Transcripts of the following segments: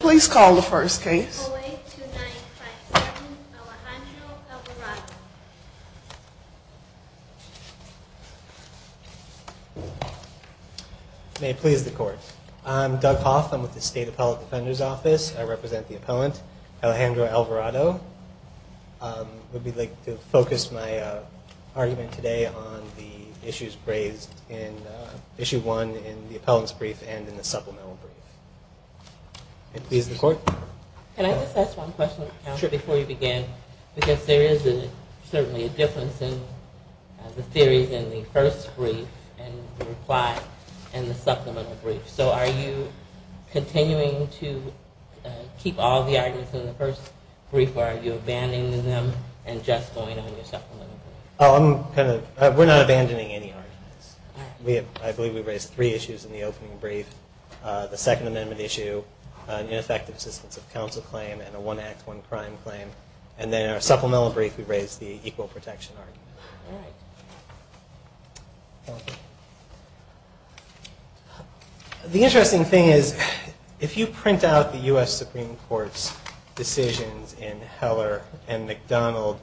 Please call the first case. May it please the court. I'm Doug Hoff. I'm with the State Appellate Defender's Office. I represent the appellant Alejandro Alvarado. I would like to focus my argument today on the issues raised in issue one in the appellant's brief and in the supplemental brief. May it please the court. Can I just ask one question before you begin? Because there is certainly a difference in the theories in the first brief and the reply in the supplemental brief. So are you continuing to keep all the arguments in the first brief or are you abandoning them and just going on your supplemental brief? We're not abandoning any arguments. I believe we raised three issues in the opening brief. The Second Amendment issue, an ineffective assistance of counsel claim, and a one act, one crime claim. And then in our supplemental brief we raised the equal protection argument. The interesting thing is if you print out the U.S. Supreme Court's decisions in Heller and McDonald,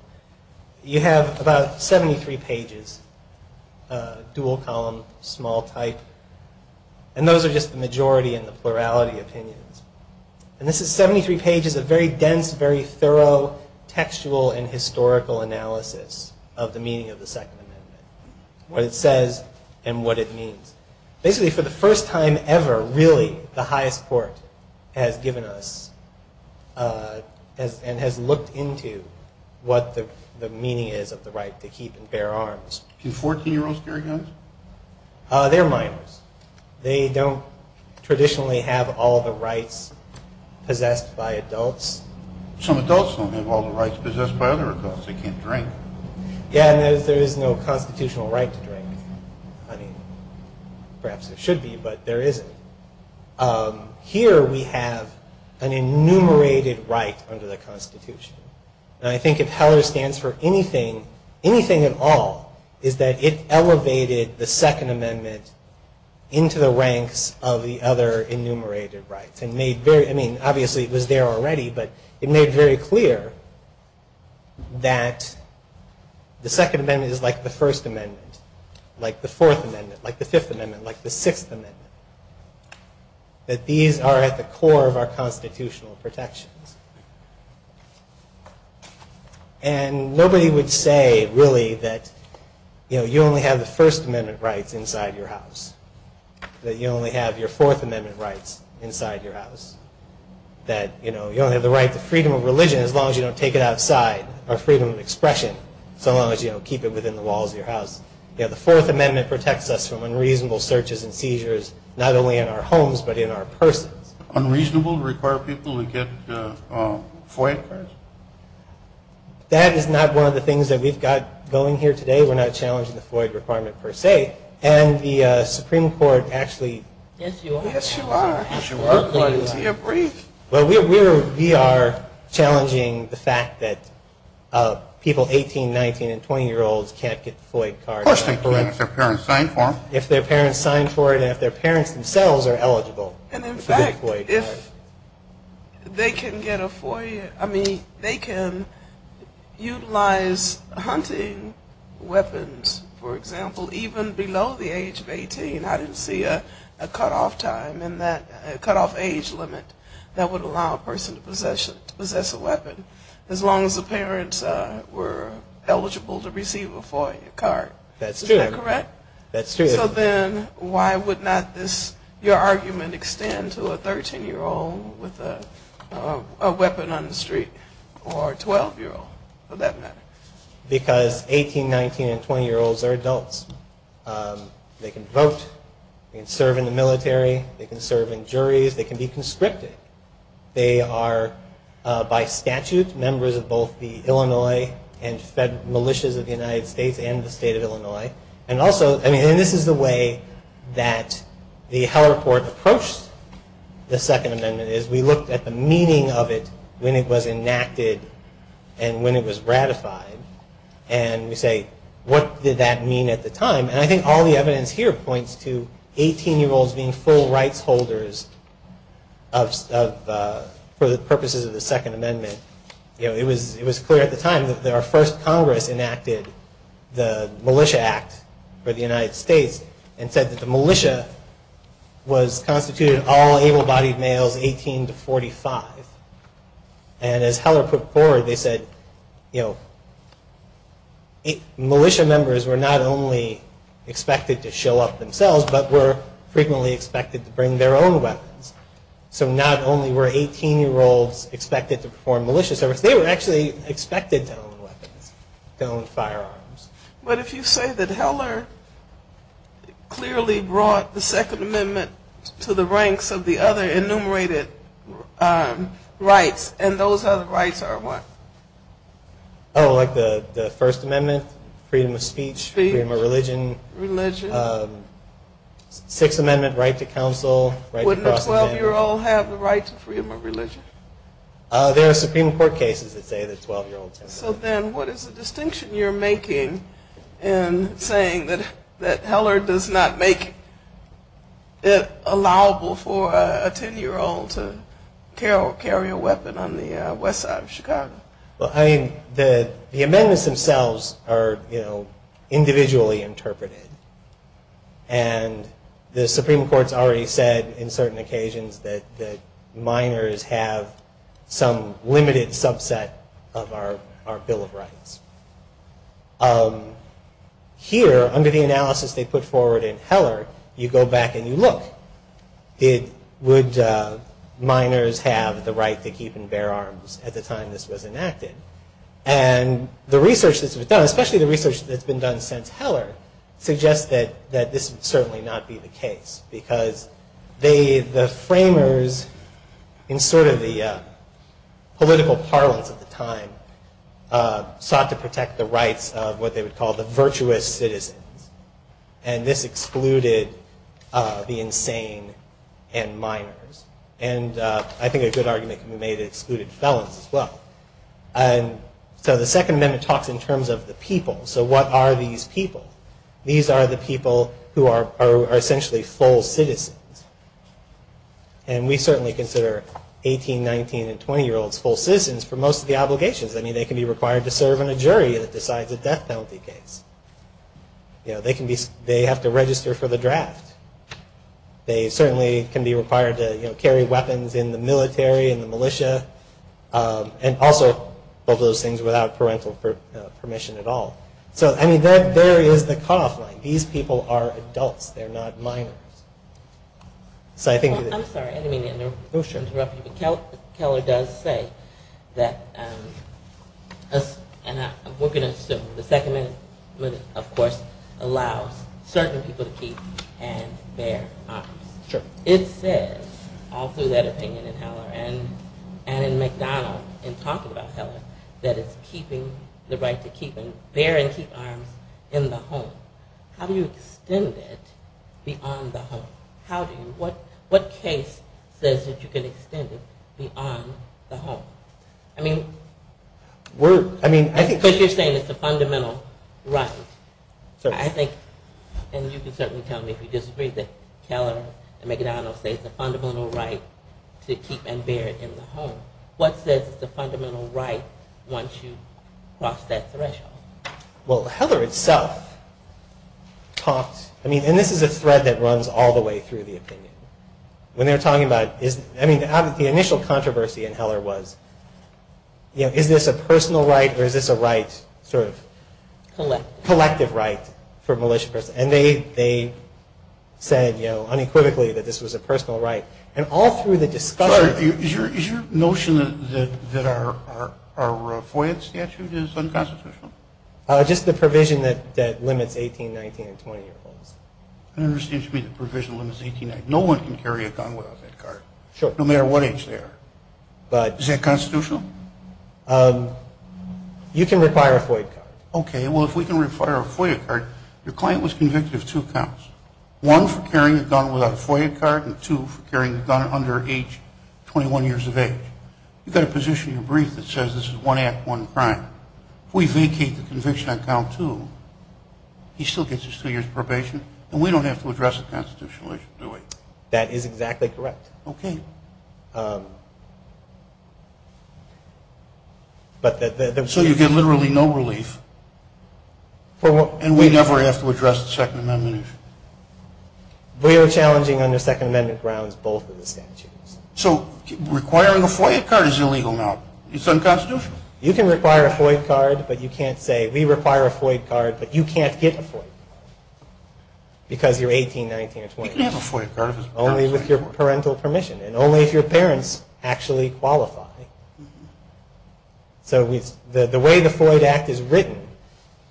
you have about 73 pages, dual column, small type, and those are just the majority and the plurality opinions. And this is 73 pages of very dense, very thorough textual and historical analysis of the meaning of the Second Amendment. What it says and what it means. Basically for the first time ever, really, the highest court has given us and has looked into what the meaning is of the right to keep and bear arms. Do 14 year olds carry guns? They're minors. They don't traditionally have all the rights possessed by adults. Some adults don't have all the rights possessed by other adults. They can't drink. Yeah, and there is no constitutional right to drink. I mean, perhaps there should be, but there isn't. Here we have an enumerated right under the Constitution. And I think if Heller stands for anything, anything at all, is that it elevated the Second Amendment into the ranks of the other enumerated rights. I mean, obviously it was there already, but it made very clear that the Second Amendment is like the First Amendment, like the Fourth Amendment, like the Fifth Amendment, like the Sixth Amendment. That these are at the core of our constitutional protections. And nobody would say, really, that you only have the First Amendment rights inside your house, that you only have your Fourth Amendment rights inside your house, that you don't have the right to freedom of religion as long as you don't take it outside, or freedom of expression, so long as you don't keep it within the walls of your house. The Fourth Amendment protects us from unreasonable searches and seizures, not only in our homes, but in our persons. Unreasonable to require people to get FOIA cards? That is not one of the things that we've got going here today. We're not challenging the FOIA requirement per se. And the Supreme Court actually... Yes, you are. Yes, you are. Yes, you are. Well, we are challenging the fact that people 18, 19, and 20-year-olds can't get FOIA cards. Of course they can if their parents signed for them. If their parents signed for it and if their parents themselves are eligible. And in fact, if they can get a FOIA, I mean, they can utilize hunting weapons, for example, even below the age of 18. I didn't see a cutoff time in that, a cutoff age limit that would allow a person to possess a weapon, as long as the parents were eligible to receive a FOIA card. That's true. That's true. So then, why would not this, your argument, extend to a 13-year-old with a weapon on the street? Or a 12-year-old, for that matter? Because 18, 19, and 20-year-olds are adults. They can vote, they can serve in the military, they can serve in juries, they can be conscripted. They are, by statute, members of both the Illinois and fed militias of the United States and the state of Illinois. And also, I mean, this is the way that the Heller Court approached the Second Amendment. We looked at the meaning of it when it was enacted and when it was ratified. And we say, what did that mean at the time? And I think all the evidence here points to 18-year-olds being full rights holders for the purposes of the Second Amendment. You know, it was clear at the time that our first Congress enacted the Militia Act for the United States and said that the militia was constituted of all able-bodied males 18 to 45. And as Heller put forward, they said, you know, militia members were not only expected to show up themselves, but were frequently expected to bring their own weapons. So not only were 18-year-olds expected to perform militia service, they were actually expected to own weapons, to own firearms. But if you say that Heller clearly brought the Second Amendment to the ranks of the other enumerated rights, and those other rights are what? Oh, like the First Amendment, freedom of speech, freedom of religion. Religion. Sixth Amendment right to counsel. Wouldn't a 12-year-old have the right to freedom of religion? There are Supreme Court cases that say that 12-year-olds have the right. So then what is the distinction you're making in saying that Heller does not make it allowable for a 10-year-old to carry a weapon on the west side of Chicago? Well, I mean, the amendments themselves are, you know, individually interpreted. And the Supreme Court's already said in certain occasions that minors have some limited subset of our Bill of Rights. Here, under the analysis they put forward in Heller, you go back and you look. Would minors have the right to keep and bear arms at the time this was enacted? And the research that's been done, especially the research that's been done since Heller, suggests that this would certainly not be the case. Because the framers, in sort of the political parlance at the time, sought to protect the rights of what they would call the virtuous citizens. And this excluded the insane and minors. And I think a good argument can be made that it excluded felons as well. So the Second Amendment talks in terms of the people. So what are these people? These are the people who are essentially full citizens. And we certainly consider 18-, 19-, and 20-year-olds full citizens for most of the obligations. I mean, they can be required to serve on a jury that decides a death penalty case. They have to register for the draft. They certainly can be required to carry weapons in the military, in the militia, and also both of those things without parental permission at all. So, I mean, there is the cutoff line. These people are adults. They're not minors. I'm sorry. I didn't mean to interrupt you. Keller does say that we're going to assume the Second Amendment, of course, allows certain people to keep and bear arms. It says, all through that opinion in Heller and in McDonald, in talking about Heller, that it's keeping the right to keep and bear and keep arms in the home. How do you extend it beyond the home? How do you? What case says that you can extend it beyond the home? I mean, because you're saying it's a fundamental right. I think, and you can certainly tell me if you disagree, that Keller and McDonald say it's a fundamental right to keep and bear in the home. What says it's a fundamental right once you cross that threshold? Well, Heller itself talks, I mean, and this is a thread that runs all the way through the opinion. When they're talking about, I mean, the initial controversy in Heller was, you know, is this a personal right or is this a right sort of collective right for a militia person? And they said, you know, unequivocally that this was a personal right. And all through the discussion. Is your notion that our FOIA statute is unconstitutional? Just the provision that limits 18, 19, and 20-year-olds. I understand you mean the provision limits 18, 19. No one can carry a gun without that card. Sure. No matter what age they are. But. Is that constitutional? You can require a FOIA card. Okay. Well, if we can require a FOIA card, your client was convicted of two counts, one for carrying a gun without a FOIA card and two for carrying a gun under age 21 years of age. You've got to position your brief that says this is one act, one crime. If we vacate the conviction on count two, he still gets his two years probation and we don't have to address the constitutional issue, do we? That is exactly correct. Okay. So you get literally no relief. And we never have to address the Second Amendment issue? We are challenging under Second Amendment grounds both of the statutes. So requiring a FOIA card is illegal now? It's unconstitutional? You can require a FOIA card, but you can't say we require a FOIA card, but you can't get a FOIA card. Because you're 18, 19, and 20. You can have a FOIA card if it's a parental permission. Only with your parental permission and only if your parents actually qualify. So the way the FOIA Act is written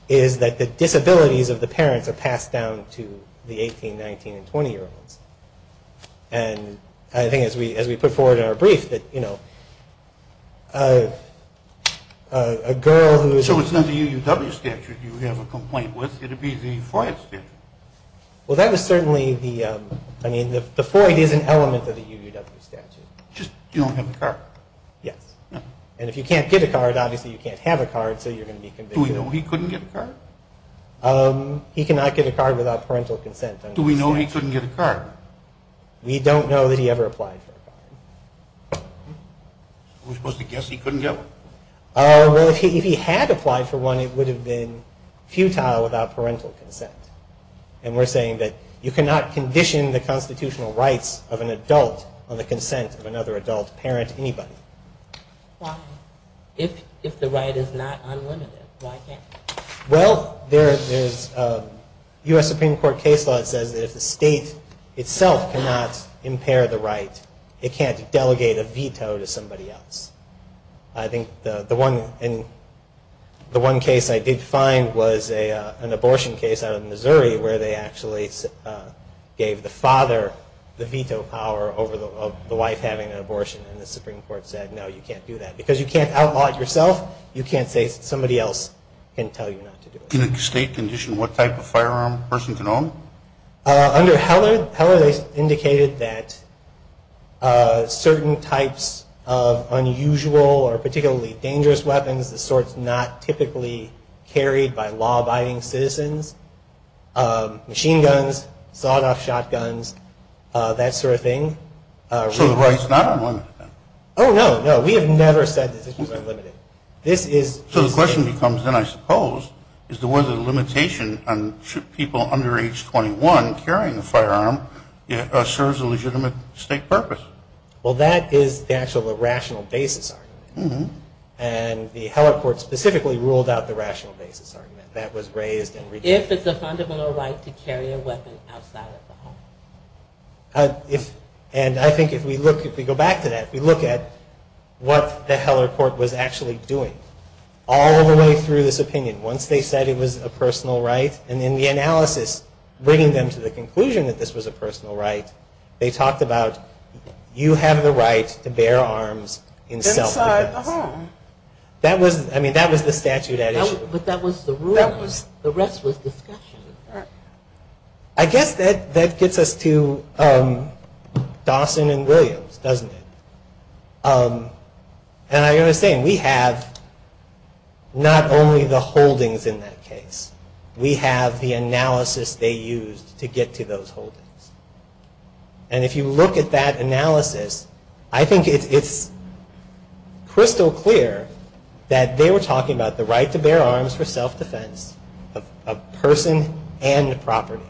is that the disabilities of the parents are passed down to the 18, 19, and 20-year-olds. And I think as we put forward in our brief that, you know, a girl who is... So it's not the UUW statute you have a complaint with. It would be the FOIA statute. Well, that was certainly the, I mean, the FOIA is an element of the UUW statute. Just you don't have a card? Yes. And if you can't get a card, obviously you can't have a card, so you're going to be convicted. Do we know he couldn't get a card? He cannot get a card without parental consent. Do we know he couldn't get a card? We don't know that he ever applied for a card. We're supposed to guess he couldn't get one? Well, if he had applied for one, it would have been futile without parental consent. And we're saying that you cannot condition the constitutional rights of an adult on the consent of another adult, parent, anybody. Why? If the right is not unlimited, why can't it? Well, there's a U.S. Supreme Court case law that says that if the state itself cannot impair the right, it can't delegate a veto to somebody else. I think the one case I did find was an abortion case out of Missouri where they actually gave the father the veto power over the wife having an abortion, and the Supreme Court said, no, you can't do that. Because you can't outlaw it yourself, you can't say somebody else can tell you not to do it. In a state condition, what type of firearm a person can own? Under Heller, they indicated that certain types of unusual or particularly dangerous weapons, the sorts not typically carried by law-abiding citizens, machine guns, sawed-off shotguns, that sort of thing. So the right is not unlimited, then? Oh, no, no. We have never said that the right is unlimited. So the question becomes then, I suppose, is there was a limitation on people under age 21 carrying a firearm if it serves a legitimate state purpose. Well, that is the actual rational basis argument. And the Heller court specifically ruled out the rational basis argument that was raised. If it's a fundamental right to carry a weapon outside of the home. And I think if we look, if we go back to that, if we look at what the Heller court was actually doing, all the way through this opinion, once they said it was a personal right, and in the analysis, bringing them to the conclusion that this was a personal right, they talked about, you have the right to bear arms inside the home. That was, I mean, that was the statute at issue. But that was the rule. The rest was discussion. I guess that gets us to Dawson and Williams, doesn't it? And I understand, we have not only the holdings in that case, we have the analysis they used to get to those holdings. And if you look at that analysis, I think it's crystal clear that they were talking about the right to bear arms for self-defense of person and property.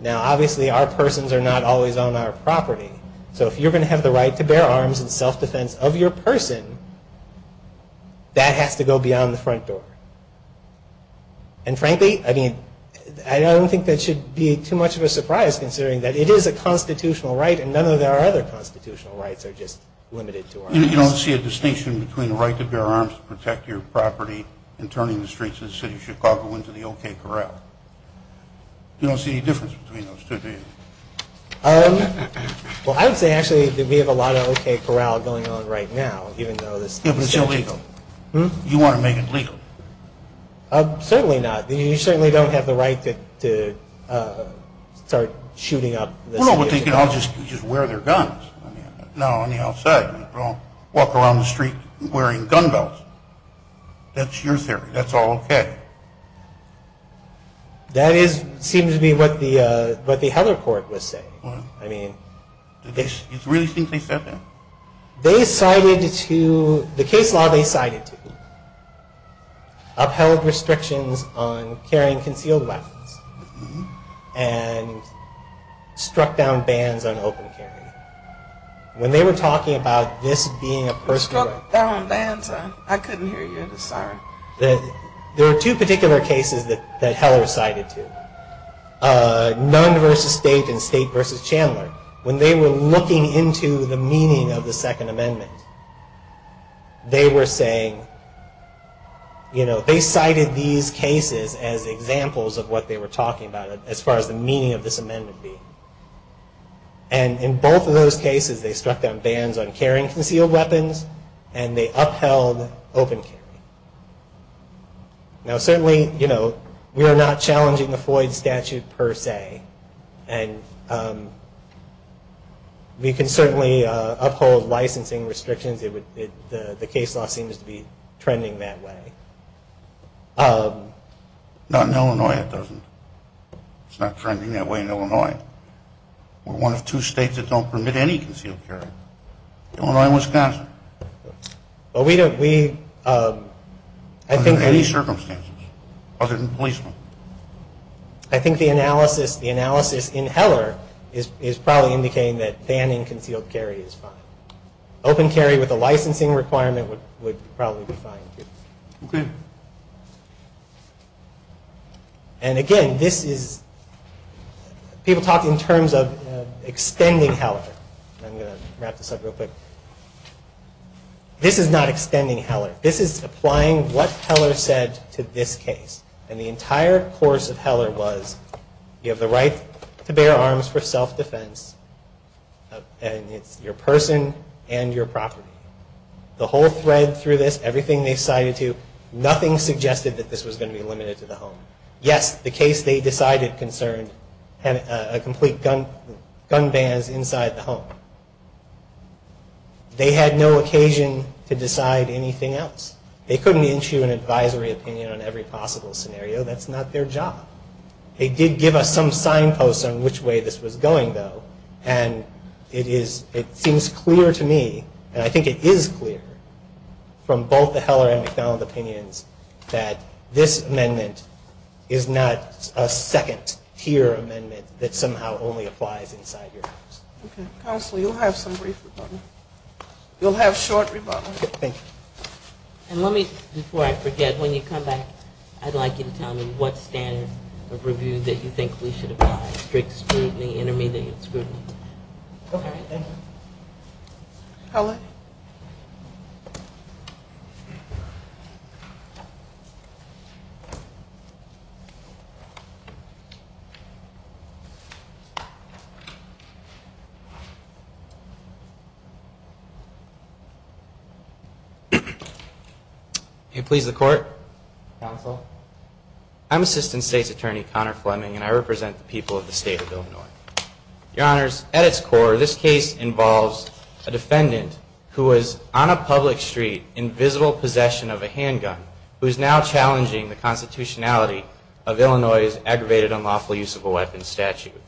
Now, obviously, our persons are not always on our property. So if you're going to have the right to bear arms in self-defense of your person, that has to go beyond the front door. And frankly, I mean, I don't think that should be too much of a surprise, considering that it is a constitutional right, and none of our other constitutional rights are just limited to arms. You don't see a distinction between the right to bear arms to protect your property and turning the streets of the city of Chicago into the OK Corral? You don't see any difference between those two, do you? Well, I would say, actually, that we have a lot of OK Corral going on right now. Yeah, but it's illegal. You want to make it legal? Certainly not. I don't know, but they could all just wear their guns. No, on the outside. They could all walk around the street wearing gun belts. That's your theory. That's all OK. That seems to be what the Heller court was saying. You really think they said that? The case law they cited to me upheld restrictions on carrying concealed weapons and struck down bans on open carry. When they were talking about this being a personal right. Struck down bans? I couldn't hear you. Sorry. There are two particular cases that Heller cited to. Nunn v. State and State v. Chandler. When they were looking into the meaning of the Second Amendment, they were saying, you know, they cited these cases as examples of what they were talking about, as far as the meaning of this amendment being. And in both of those cases, they struck down bans on carrying concealed weapons and they upheld open carry. Now, certainly, you know, we are not challenging the Floyd statute per se. And we can certainly uphold licensing restrictions. The case law seems to be trending that way. Not in Illinois, it doesn't. It's not trending that way in Illinois. We're one of two states that don't permit any concealed carry. Illinois and Wisconsin. Well, we don't. Under any circumstances, other than policemen. I think the analysis in Heller is probably indicating that banning concealed carry is fine. Open carry with a licensing requirement would probably be fine, too. Okay. And again, this is, people talk in terms of extending Heller. I'm going to wrap this up real quick. This is not extending Heller. This is applying what Heller said to this case. And the entire course of Heller was, you have the right to bear arms for self-defense. And it's your person and your property. The whole thread through this, everything they cited to, nothing suggested that this was going to be limited to the home. Yes, the case they decided concerned a complete gun ban is inside the home. They had no occasion to decide anything else. They couldn't issue an advisory opinion on every possible scenario. That's not their job. They did give us some signposts on which way this was going, though. And it is, it seems clear to me, and I think it is clear, from both the Heller and MacDonald opinions, that this amendment is not a second-tier amendment that somehow only applies inside your house. Counsel, you'll have some brief rebuttal. You'll have short rebuttal. And let me, before I forget, when you come back, I'd like you to tell me what standard of review that you think we should apply. Strict scrutiny, intermediate scrutiny. Okay, thank you. Heller? Can you please, the court? Counsel? I'm Assistant State's Attorney Connor Fleming, and I represent the people of the state of Illinois. Your Honors, at its core, this case involves a defendant who was on a public street in visible possession of a handgun, who is now challenging the constitutionality of Illinois's aggravated unlawful use of a weapon statute.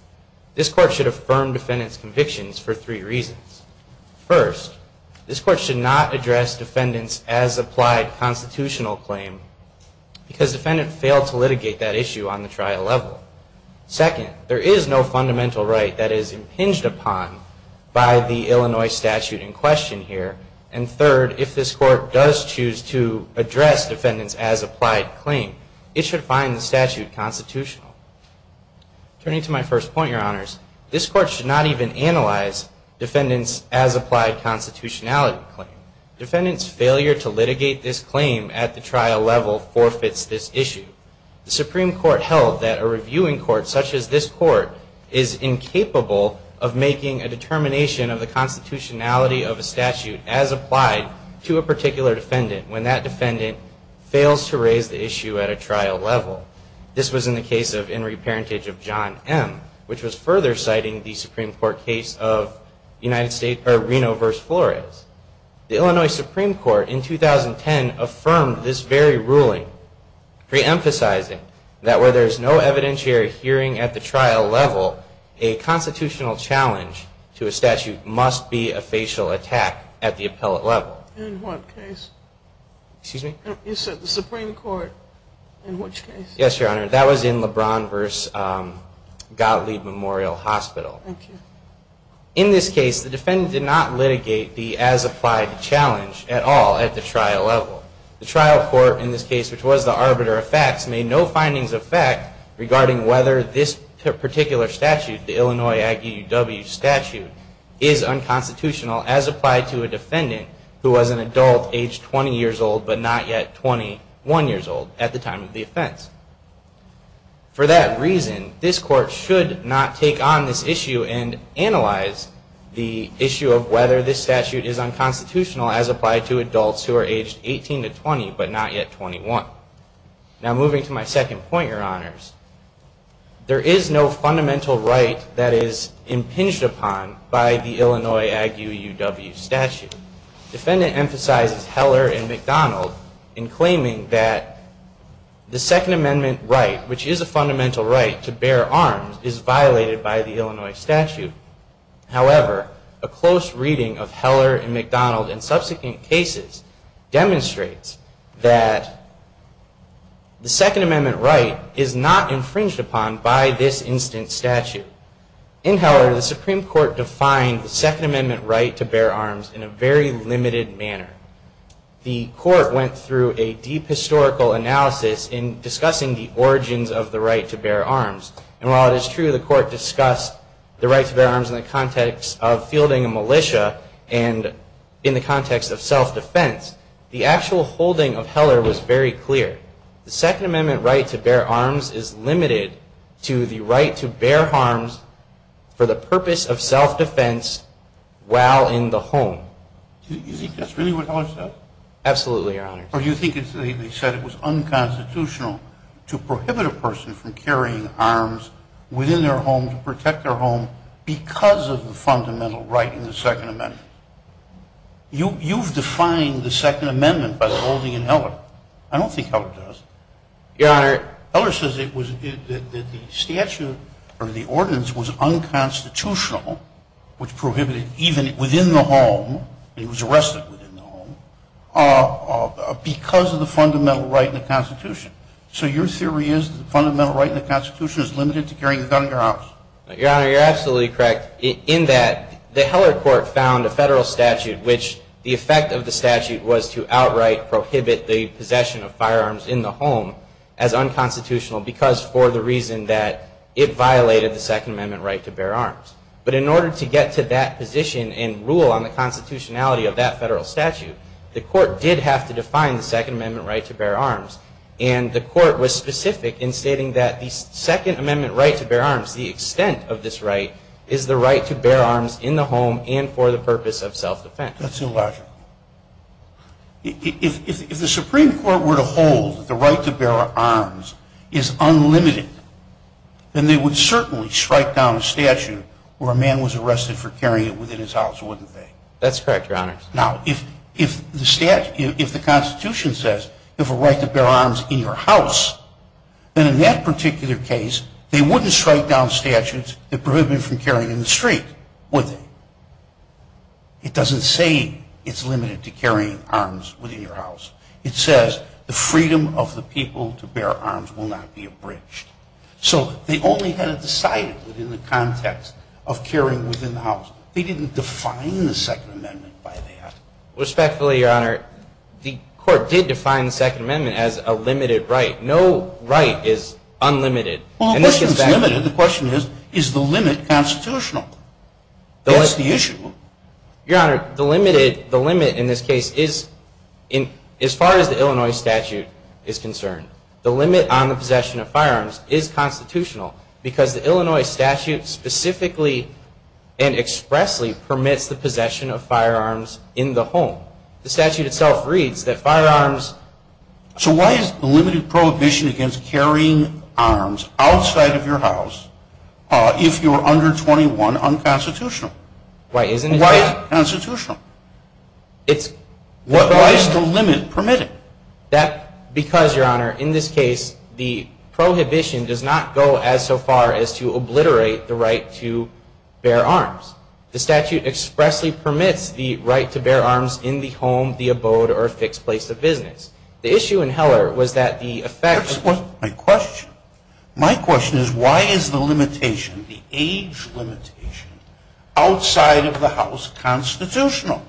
This court should affirm defendant's convictions for three reasons. First, this court should not address defendant's as-applied constitutional claim, because defendant failed to litigate that issue on the trial level. Second, there is no fundamental right that is impinged upon by the Illinois statute in question here. And third, if this court does choose to address defendant's as-applied claim, it should find the statute constitutional. Turning to my first point, Your Honors, this court should not even analyze defendant's as-applied constitutionality claim. Defendant's failure to litigate this claim at the trial level forfeits this issue. The Supreme Court held that a reviewing court such as this court is incapable of making a determination of the constitutionality of a statute as applied to a particular defendant when that defendant fails to raise the issue at a trial level. This was in the case of Henry Parentage v. John M., which was further citing the Supreme Court case of Reno v. Flores. The Illinois Supreme Court in 2010 affirmed this very ruling, reemphasizing that where there is no evidentiary hearing at the trial level, a constitutional challenge to a statute must be a facial attack at the appellate level. In what case? You said the Supreme Court, in which case? Yes, Your Honor. That was in LeBron v. Gottlieb Memorial Hospital. In this case, the defendant did not litigate the as-applied challenge at all at the trial level. The trial court in this case, which was the arbiter of facts, made no findings of fact regarding whether this particular statute, the Illinois Aggie UW statute, is unconstitutional as applied to a defendant who was an adult aged 20 years old but not yet 21 years old at the time of the offense. For that reason, this Court should not take on this issue and analyze the issue of whether this statute is unconstitutional as applied to adults who are aged 18 to 20 but not yet 21. Now, moving to my second point, Your Honors. There is no fundamental right that is impinged upon by the Illinois Aggie UW statute. The defendant emphasizes Heller and McDonald in claiming that the Second Amendment right, which is a fundamental right to bear arms, is violated by the Illinois statute. However, a close reading of Heller and McDonald and subsequent cases demonstrates that the Second Amendment right is not infringed upon by this instant statute. In Heller, the Supreme Court defined the Second Amendment right to bear arms in a very limited manner. The Court went through a deep historical analysis in discussing the origins of the right to bear arms. And while it is true the Court discussed the right to bear arms in the context of fielding a militia and in the context of self-defense, the actual holding of Heller was very clear. The Second Amendment right to bear arms is limited to the right to bear arms for the purpose of self-defense while in the home. Is that really what Heller said? Absolutely, Your Honors. Or do you think they said it was unconstitutional to prohibit a person from carrying arms within their home to protect their home because of the fundamental right in the Second Amendment? I don't think Heller does. Your Honor. Heller says that the statute or the ordinance was unconstitutional, which prohibited even within the home, and he was arrested within the home, because of the fundamental right in the Constitution. So your theory is that the fundamental right in the Constitution is limited to carrying a gun in your house? Your Honor, you're absolutely correct in that the Heller Court found a federal statute which the effect of the statute was to outright prohibit the possession of firearms in the home as unconstitutional because for the reason that it violated the Second Amendment right to bear arms. But in order to get to that position and rule on the constitutionality of that federal statute, the Court did have to define the Second Amendment right to bear arms, and the Court was specific in stating that the Second Amendment right to bear arms, the extent of this right, is the right to bear arms in the home and for the purpose of self-defense. That's illogical. If the Supreme Court were to hold that the right to bear arms is unlimited, then they would certainly strike down a statute where a man was arrested for carrying it within his house, wouldn't they? That's correct, Your Honor. Now, if the Constitution says you have a right to bear arms in your house, then in that particular case, they wouldn't strike down statutes that prohibit you from carrying it in the street, would they? It doesn't say it's limited to carrying arms within your house. It says the freedom of the people to bear arms will not be abridged. So they only had it decided within the context of carrying within the house. They didn't define the Second Amendment by that. Respectfully, Your Honor, the Court did define the Second Amendment as a limited right. No right is unlimited. Well, the question is limited. The question is, is the limit constitutional? That's the issue. Your Honor, the limit in this case is, as far as the Illinois statute is concerned, the limit on the possession of firearms is constitutional because the Illinois statute specifically and expressly permits the possession of firearms in the home. The statute itself reads that firearms... So why is the limited prohibition against carrying arms outside of your house if you are under 21 unconstitutional? Why isn't it? Why is it constitutional? Why is the limit permitted? Because, Your Honor, in this case, the prohibition does not go as so far as to obliterate the right to bear arms. The statute expressly permits the right to bear arms in the home, the abode, or a fixed place of business. The issue in Heller was that the effect... That's not my question. My question is, why is the limitation, the age limitation, outside of the house constitutional?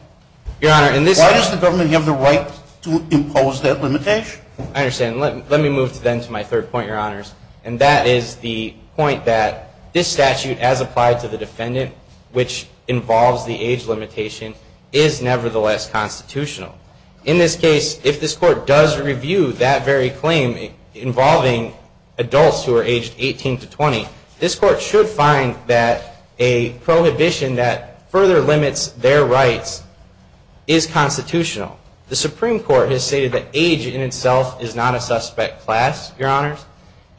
Your Honor, in this case... Why does the government have the right to impose that limitation? I understand. Let me move then to my third point, Your Honors, and that is the point that this statute, as applied to the defendant, which involves the age limitation, is nevertheless constitutional. In this case, if this Court does review that very claim involving adults who are aged 18 to 20, this Court should find that a prohibition that further limits their rights is constitutional. The Supreme Court has stated that age in itself is not a suspect class, Your Honors,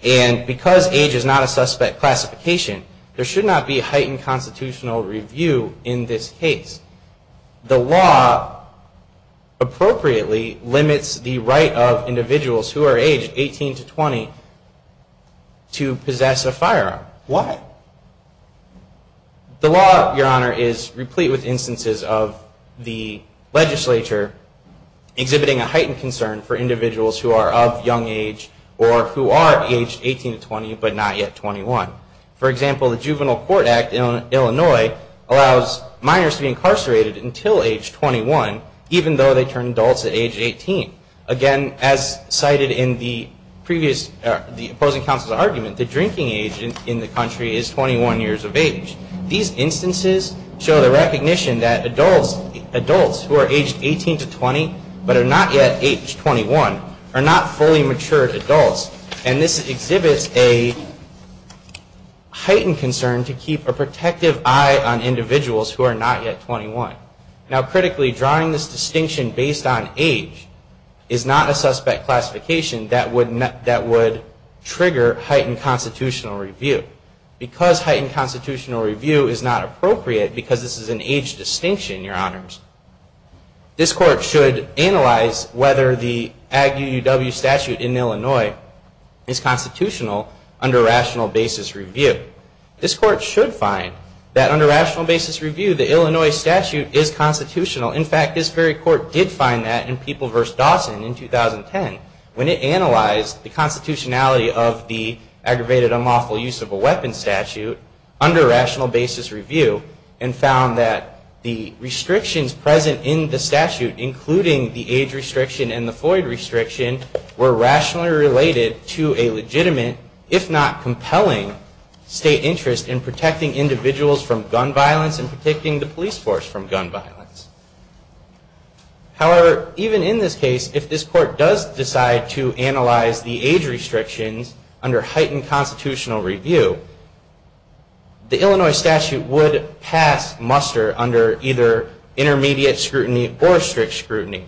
and because age is not a suspect classification, there should not be heightened constitutional review in this case. The law, appropriately, limits the right of individuals who are aged 18 to 20 to possess a firearm. The law, Your Honor, is replete with instances of the legislature exhibiting a heightened concern for individuals who are of young age or who are aged 18 to 20 but not yet 21. For example, the Juvenile Court Act in Illinois allows minors to be incarcerated until age 21, even though they turn adults at age 18. Again, as cited in the opposing counsel's argument, the drinking age in the country is 21 years of age. These instances show the recognition that adults who are aged 18 to 20 but are not yet age 21 are not fully matured adults, and this exhibits a heightened concern to keep a protective eye on individuals who are not yet 21. Now, critically, drawing this distinction based on age is not a suspect classification that would trigger heightened constitutional review. Because heightened constitutional review is not appropriate, because this is an age distinction, Your Honors, this Court should analyze whether the Ag UUW statute in Illinois is constitutional under rational basis review. This Court should find that under rational basis review, the Illinois statute is constitutional. In fact, this very Court did find that in People v. Dawson in 2010 when it analyzed the constitutionality of the aggravated, unlawful use of a weapon statute under rational basis review and found that the restrictions present in the statute, including the age restriction and the Floyd restriction, were rationally related to a legitimate, if not compelling, state interest in protecting individuals from gun violence and protecting the police force from gun violence. However, even in this case, if this Court does decide to analyze the age restrictions under heightened constitutional review, the Illinois statute would pass muster under either intermediate scrutiny or strict scrutiny.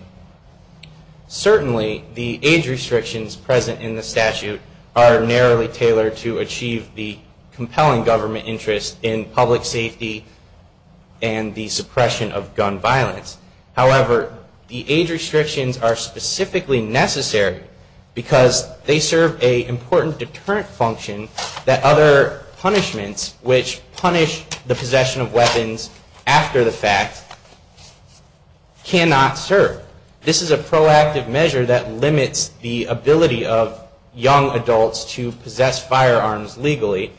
Certainly, the age restrictions present in the statute are narrowly tailored to achieve the compelling government interest in public safety and the suppression of gun violence. However, the age restrictions are specifically necessary because they serve an important deterrent function that other punishments, which punish the possession of weapons after the fact, cannot serve. This is a proactive measure that limits the ability of young adults to possess firearms legally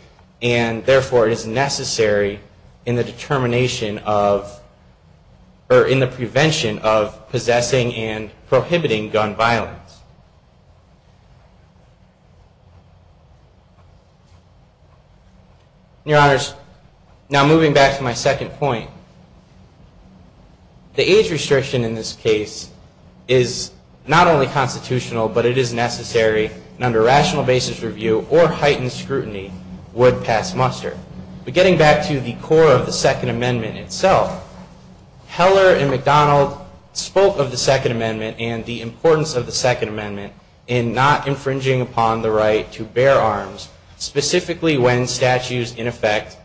and, therefore, is necessary in the determination of, or in the prevention of, possessing and prohibiting gun violence. Your Honors, now moving back to my second point, the age restriction in this case is not only constitutional, but it is necessary and under rational basis review or heightened scrutiny would pass muster. But getting back to the core of the Second Amendment itself, Heller and McDonald spoke of the Second Amendment and the importance of the Second Amendment in not infringing upon the right to bear arms, specifically when statutes, in effect,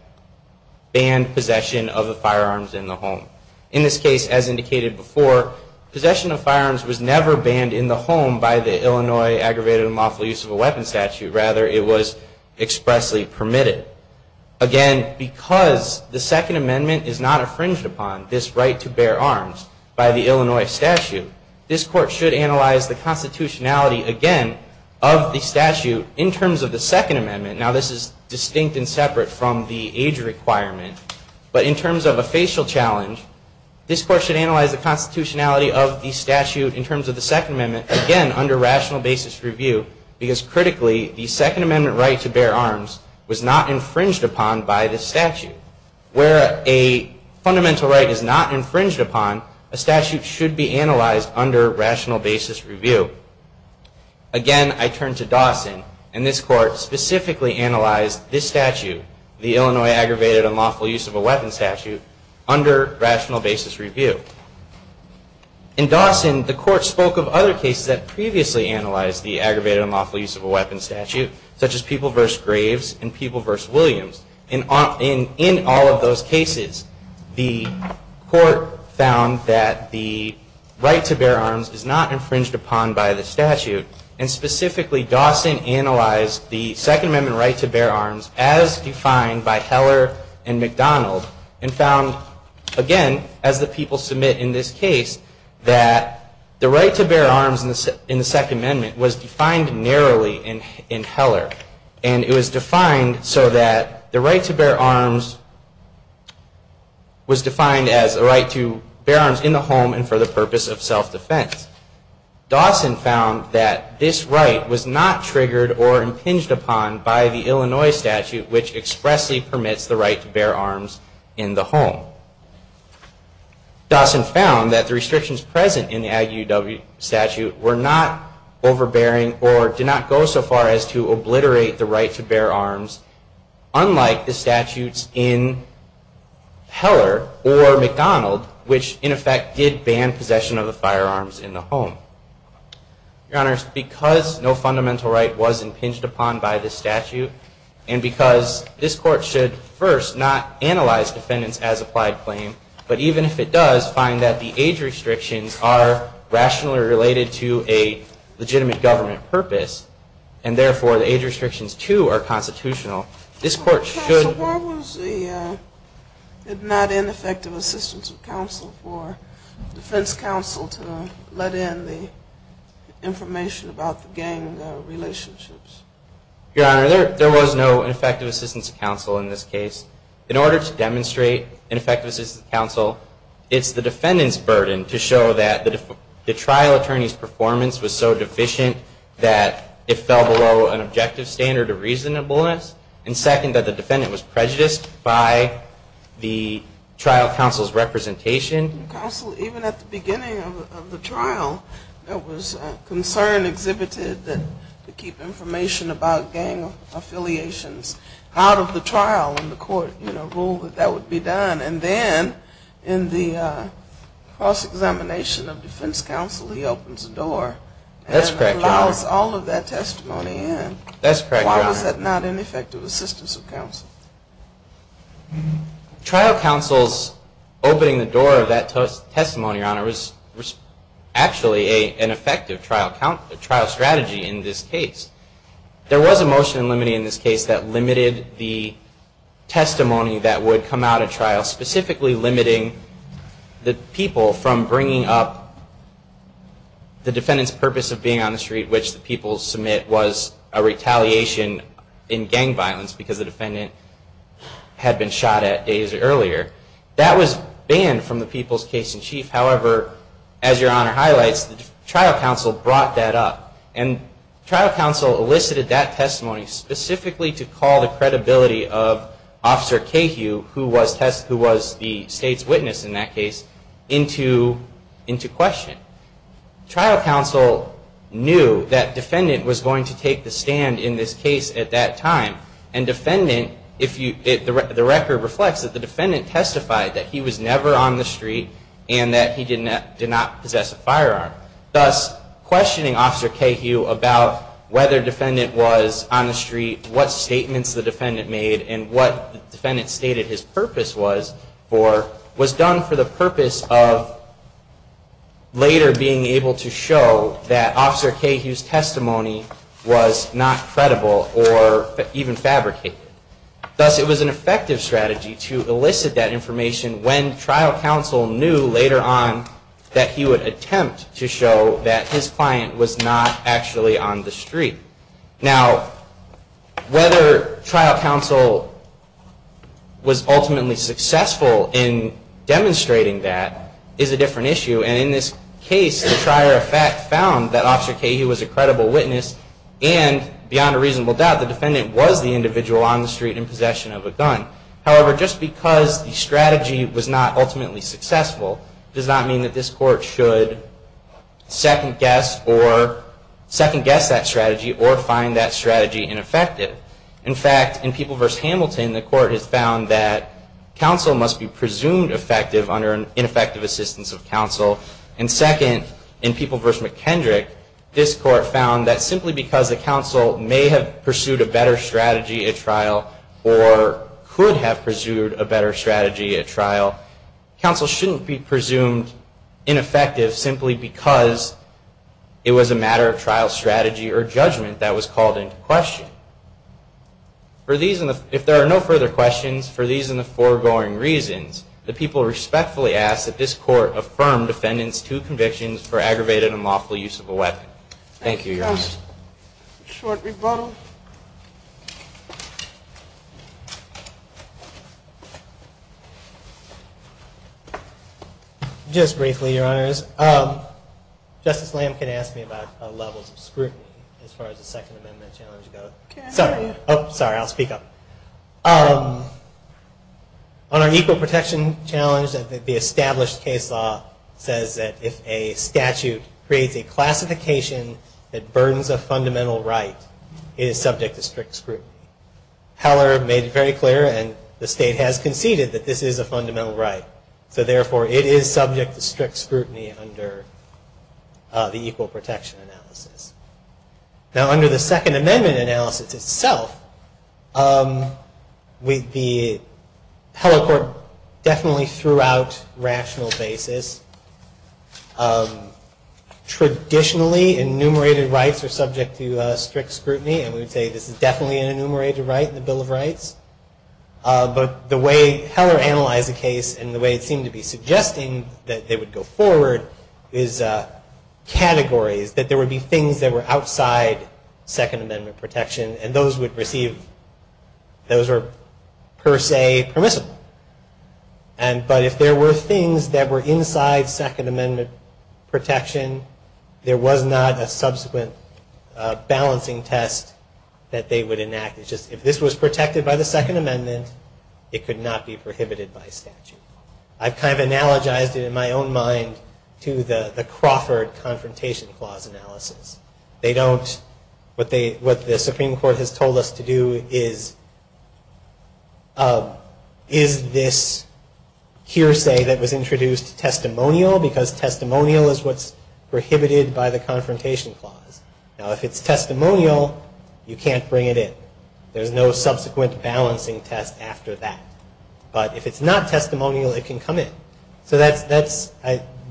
ban possession of the firearms in the home. In this case, as indicated before, possession of firearms was never banned in the home by the Illinois Aggravated and Lawful Use of a Weapon statute. Rather, it was expressly permitted. Again, because the Second Amendment is not infringed upon this right to bear arms by the Illinois statute, this Court should analyze the constitutionality, again, of the statute in terms of the Second Amendment. Now, this is distinct and separate from the age requirement, but in terms of a facial challenge, this Court should analyze the constitutionality of the statute in terms of the Second Amendment, again, under rational basis review because, critically, the Second Amendment right to bear arms was not infringed upon by this statute. Where a fundamental right is not infringed upon, a statute should be analyzed under rational basis review. Again, I turn to Dawson, and this Court specifically analyzed this statute, the Illinois Aggravated and Lawful Use of a Weapon statute, under rational basis review. In Dawson, the Court spoke of other cases that previously analyzed the Aggravated and Lawful Use of a Weapon statute, such as People v. Graves and People v. Williams. In all of those cases, the Court found that the right to bear arms is not infringed upon by the statute, and specifically, Dawson analyzed the Second Amendment right to bear arms as defined by Heller and McDonald and found, again, as the people submit in this case, that the right to bear arms in the Second Amendment was defined narrowly in Heller, and it was defined so that the right to bear arms was defined as the right to bear arms in the home and for the purpose of self-defense. Dawson found that this right was not triggered or impinged upon by the Illinois statute, which expressly permits the right to bear arms in the home. Dawson found that the restrictions present in the Aggie UW statute were not overbearing or did not go so far as to obliterate the right to bear arms, unlike the statutes in Heller or McDonald, which, in effect, did ban possession of the firearms in the home. Your Honors, because no fundamental right was impinged upon by this statute, and because this Court should first not analyze defendants as applied claim, but even if it does find that the age restrictions are rationally related to a legitimate government purpose, and therefore the age restrictions, too, are constitutional, this Court should... not end effective assistance of counsel for defense counsel to let in the information about the gang relationships. Your Honor, there was no effective assistance of counsel in this case. In order to demonstrate ineffective assistance of counsel, it's the defendant's burden to show that the trial attorney's performance was so deficient that it fell below an objective standard of reasonableness, and second, that the defendant was prejudiced by the trial counsel's representation. Counsel, even at the beginning of the trial, there was concern exhibited that to keep information about gang affiliations out of the trial, and the Court ruled that that would be done. And then, in the cross-examination of defense counsel, he opens the door and allows all of that testimony in. That's correct, Your Honor. Why was that not an effective assistance of counsel? Trial counsel's opening the door of that testimony, Your Honor, was actually an effective trial strategy in this case. There was a motion in limine in this case that limited the testimony that would come out of trial, specifically limiting the people from bringing up the defendant's purpose of being on the street, which the people submit was a retaliation in gang violence because the defendant had been shot at days earlier. That was banned from the people's case-in-chief. However, as Your Honor highlights, the trial counsel brought that up, and trial counsel elicited that testimony specifically to call the credibility of Officer Cahew, who was the state's witness in that case, into question. Trial counsel knew that defendant was going to take the stand in this case at that time, and the record reflects that the defendant testified that he was never on the street and that he did not possess a firearm. Thus, questioning Officer Cahew about whether defendant was on the street, what statements the defendant made, and what the defendant stated his purpose was for was done for the purpose of later being able to show that Officer Cahew's testimony was not credible or even fabricated. Thus, it was an effective strategy to elicit that information when trial counsel knew later on that he would attempt to show that his client was not actually on the street. Now, whether trial counsel was ultimately successful in demonstrating that is a different issue, and in this case, the trier of fact found that Officer Cahew was a credible witness, and beyond a reasonable doubt, the defendant was the individual on the street in possession of a gun. However, just because the strategy was not ultimately successful does not mean that this Court should second-guess that strategy or find that strategy ineffective. In fact, in People v. Hamilton, the Court has found that counsel must be presumed effective under an ineffective assistance of counsel, and second, in People v. McKendrick, this Court found that simply because the counsel may have pursued a better strategy at trial or could have pursued a better strategy at trial, counsel shouldn't be presumed ineffective simply because it was a matter of trial strategy or judgment that was called into question. If there are no further questions, for these and the foregoing reasons, the people respectfully ask that this Court affirm defendants' two convictions for aggravated and lawful use of a weapon. Thank you, Your Honor. Short rebuttal. Just briefly, Your Honors. Justice Lamkin asked me about levels of scrutiny as far as the Second Amendment challenge goes. Sorry, I'll speak up. On our equal protection challenge, the established case law says that if a statute creates a classification that burdens a fundamental right, it is subject to strict scrutiny. Heller made it very clear, and the State has conceded, that this is a fundamental right. So, therefore, it is subject to strict scrutiny under the equal protection analysis. Now, under the Second Amendment analysis itself, the Heller Court definitely threw out rational basis. Traditionally, enumerated rights are subject to strict scrutiny, and we would say this is definitely an enumerated right in the Bill of Rights. But the way Heller analyzed the case and the way it seemed to be suggesting that they would go forward is categories, that there would be things that were outside Second Amendment protection, and those would receive, those were per se permissible. But if there were things that were inside Second Amendment protection, there was not a subsequent balancing test that they would enact. It's just, if this was protected by the Second Amendment, it could not be prohibited by statute. I've kind of analogized it in my own mind to the Crawford Confrontation Clause analysis. They don't, what they, what the Supreme Court has told us to do is, is this hearsay that was introduced testimonial? Because testimonial is a testimonial. Testimonial is what's prohibited by the Confrontation Clause. Now if it's testimonial, you can't bring it in. There's no subsequent balancing test after that. But if it's not testimonial, it can come in. So that's, that's,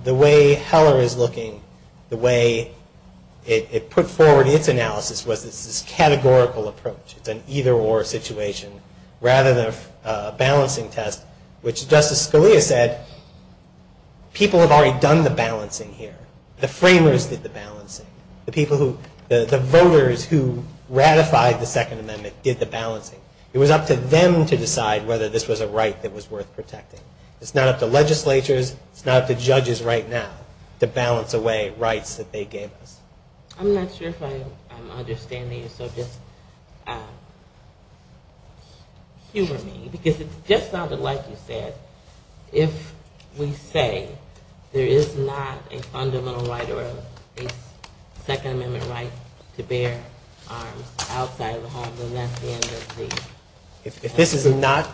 the way Heller is looking, the way it put forward its analysis was this categorical approach. It's an either-or situation rather than a balancing test, which Justice Scalia said, people have already done the balancing here. The framers did the balancing. The people who, the voters who ratified the Second Amendment did the balancing. It was up to them to decide whether this was a right that was worth protecting. It's not up to legislatures, it's not up to judges right now to balance away rights that they gave us. I'm not sure if I'm understanding you, so just humor me, because it's just not like you said, if we say there is not a fundamental right or a Second Amendment right to bear arms outside of the home, then that's the end of the... If this is not,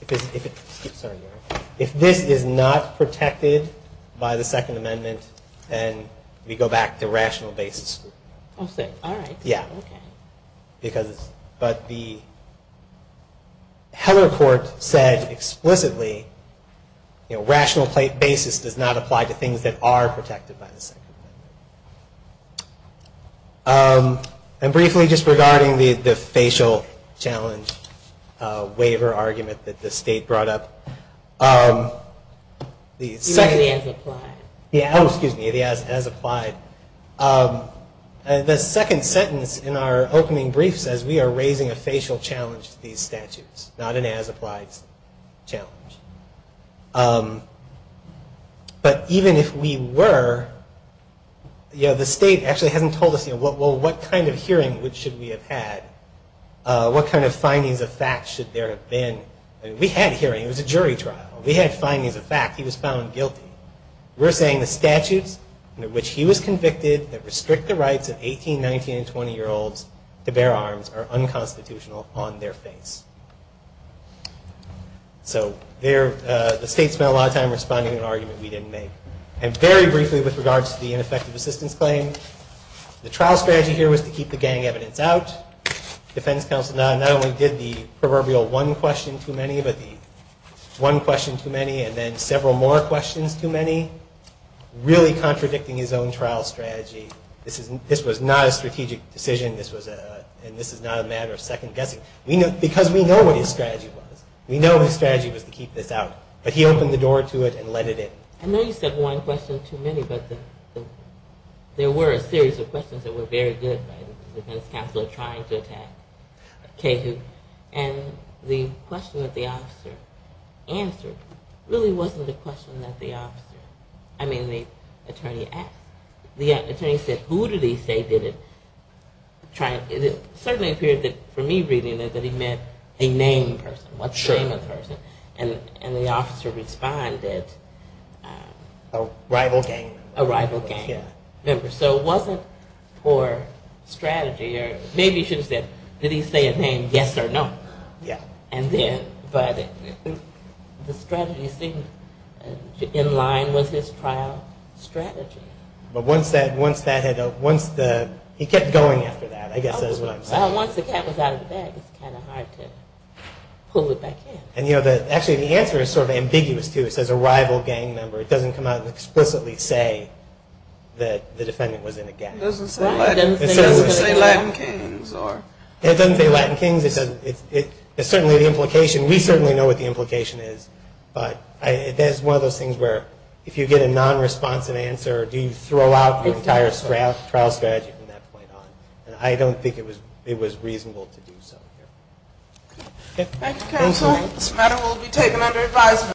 if this is not protected by the Second Amendment, then we go back to rational basis. Oh, I see. All right. Yeah. Because, but the, Heller's argument, Heller's report said explicitly, rational basis does not apply to things that are protected by the Second Amendment. And briefly, just regarding the facial challenge waiver argument that the state brought up, the second... It has applied. Oh, excuse me, it has applied. The second sentence in our opening brief says we are raising a facial challenge to these statutes, not an as-applied challenge. But even if we were, you know, the state actually hasn't told us, you know, well, what kind of hearing should we have had, what kind of findings of fact should there have been? I mean, we had a hearing, it was a jury trial. We had findings of fact. He was found guilty. We're saying the statutes under which he was convicted that restrict the rights of 18, 19, and 20-year-olds to bear arms are unconstitutional on their face. So there, the state spent a lot of time responding to an argument we didn't make. And very briefly with regards to the ineffective assistance claim, the trial strategy here was to keep the gang evidence out. Defense counsel not only did the question too many, really contradicting his own trial strategy, this was not a strategic decision, and this is not a matter of second guessing. Because we know what his strategy was. We know his strategy was to keep this out. But he opened the door to it and let it in. I know you said one question too many, but there were a series of questions that were very good. The defense counsel are the attorney asked. The attorney said, who did he say did it? It certainly appeared for me reading that he meant a named person. What's the name of the person? And the officer responded... A rival gang member. A rival gang member. So it wasn't for strategy. Maybe he should have said, did he say a name, yes or no? And then, but the strategy seemed in line with the trial strategy. But once he kept going after that, I guess that's what I'm saying. Once the cat was out of the bag, it's kind of hard to pull it back in. And you know, actually the answer is sort of ambiguous too. It says a rival gang member. It doesn't come out and explicitly say that the defendant was in a gang. It doesn't say Latin kings or... It doesn't say Latin kings. We certainly know what the answer is. But if you get a non-responsive answer, do you throw out the entire trial strategy from that point on? And I don't think it was reasonable to do so. Thank you counsel. This matter will be taken under advisement.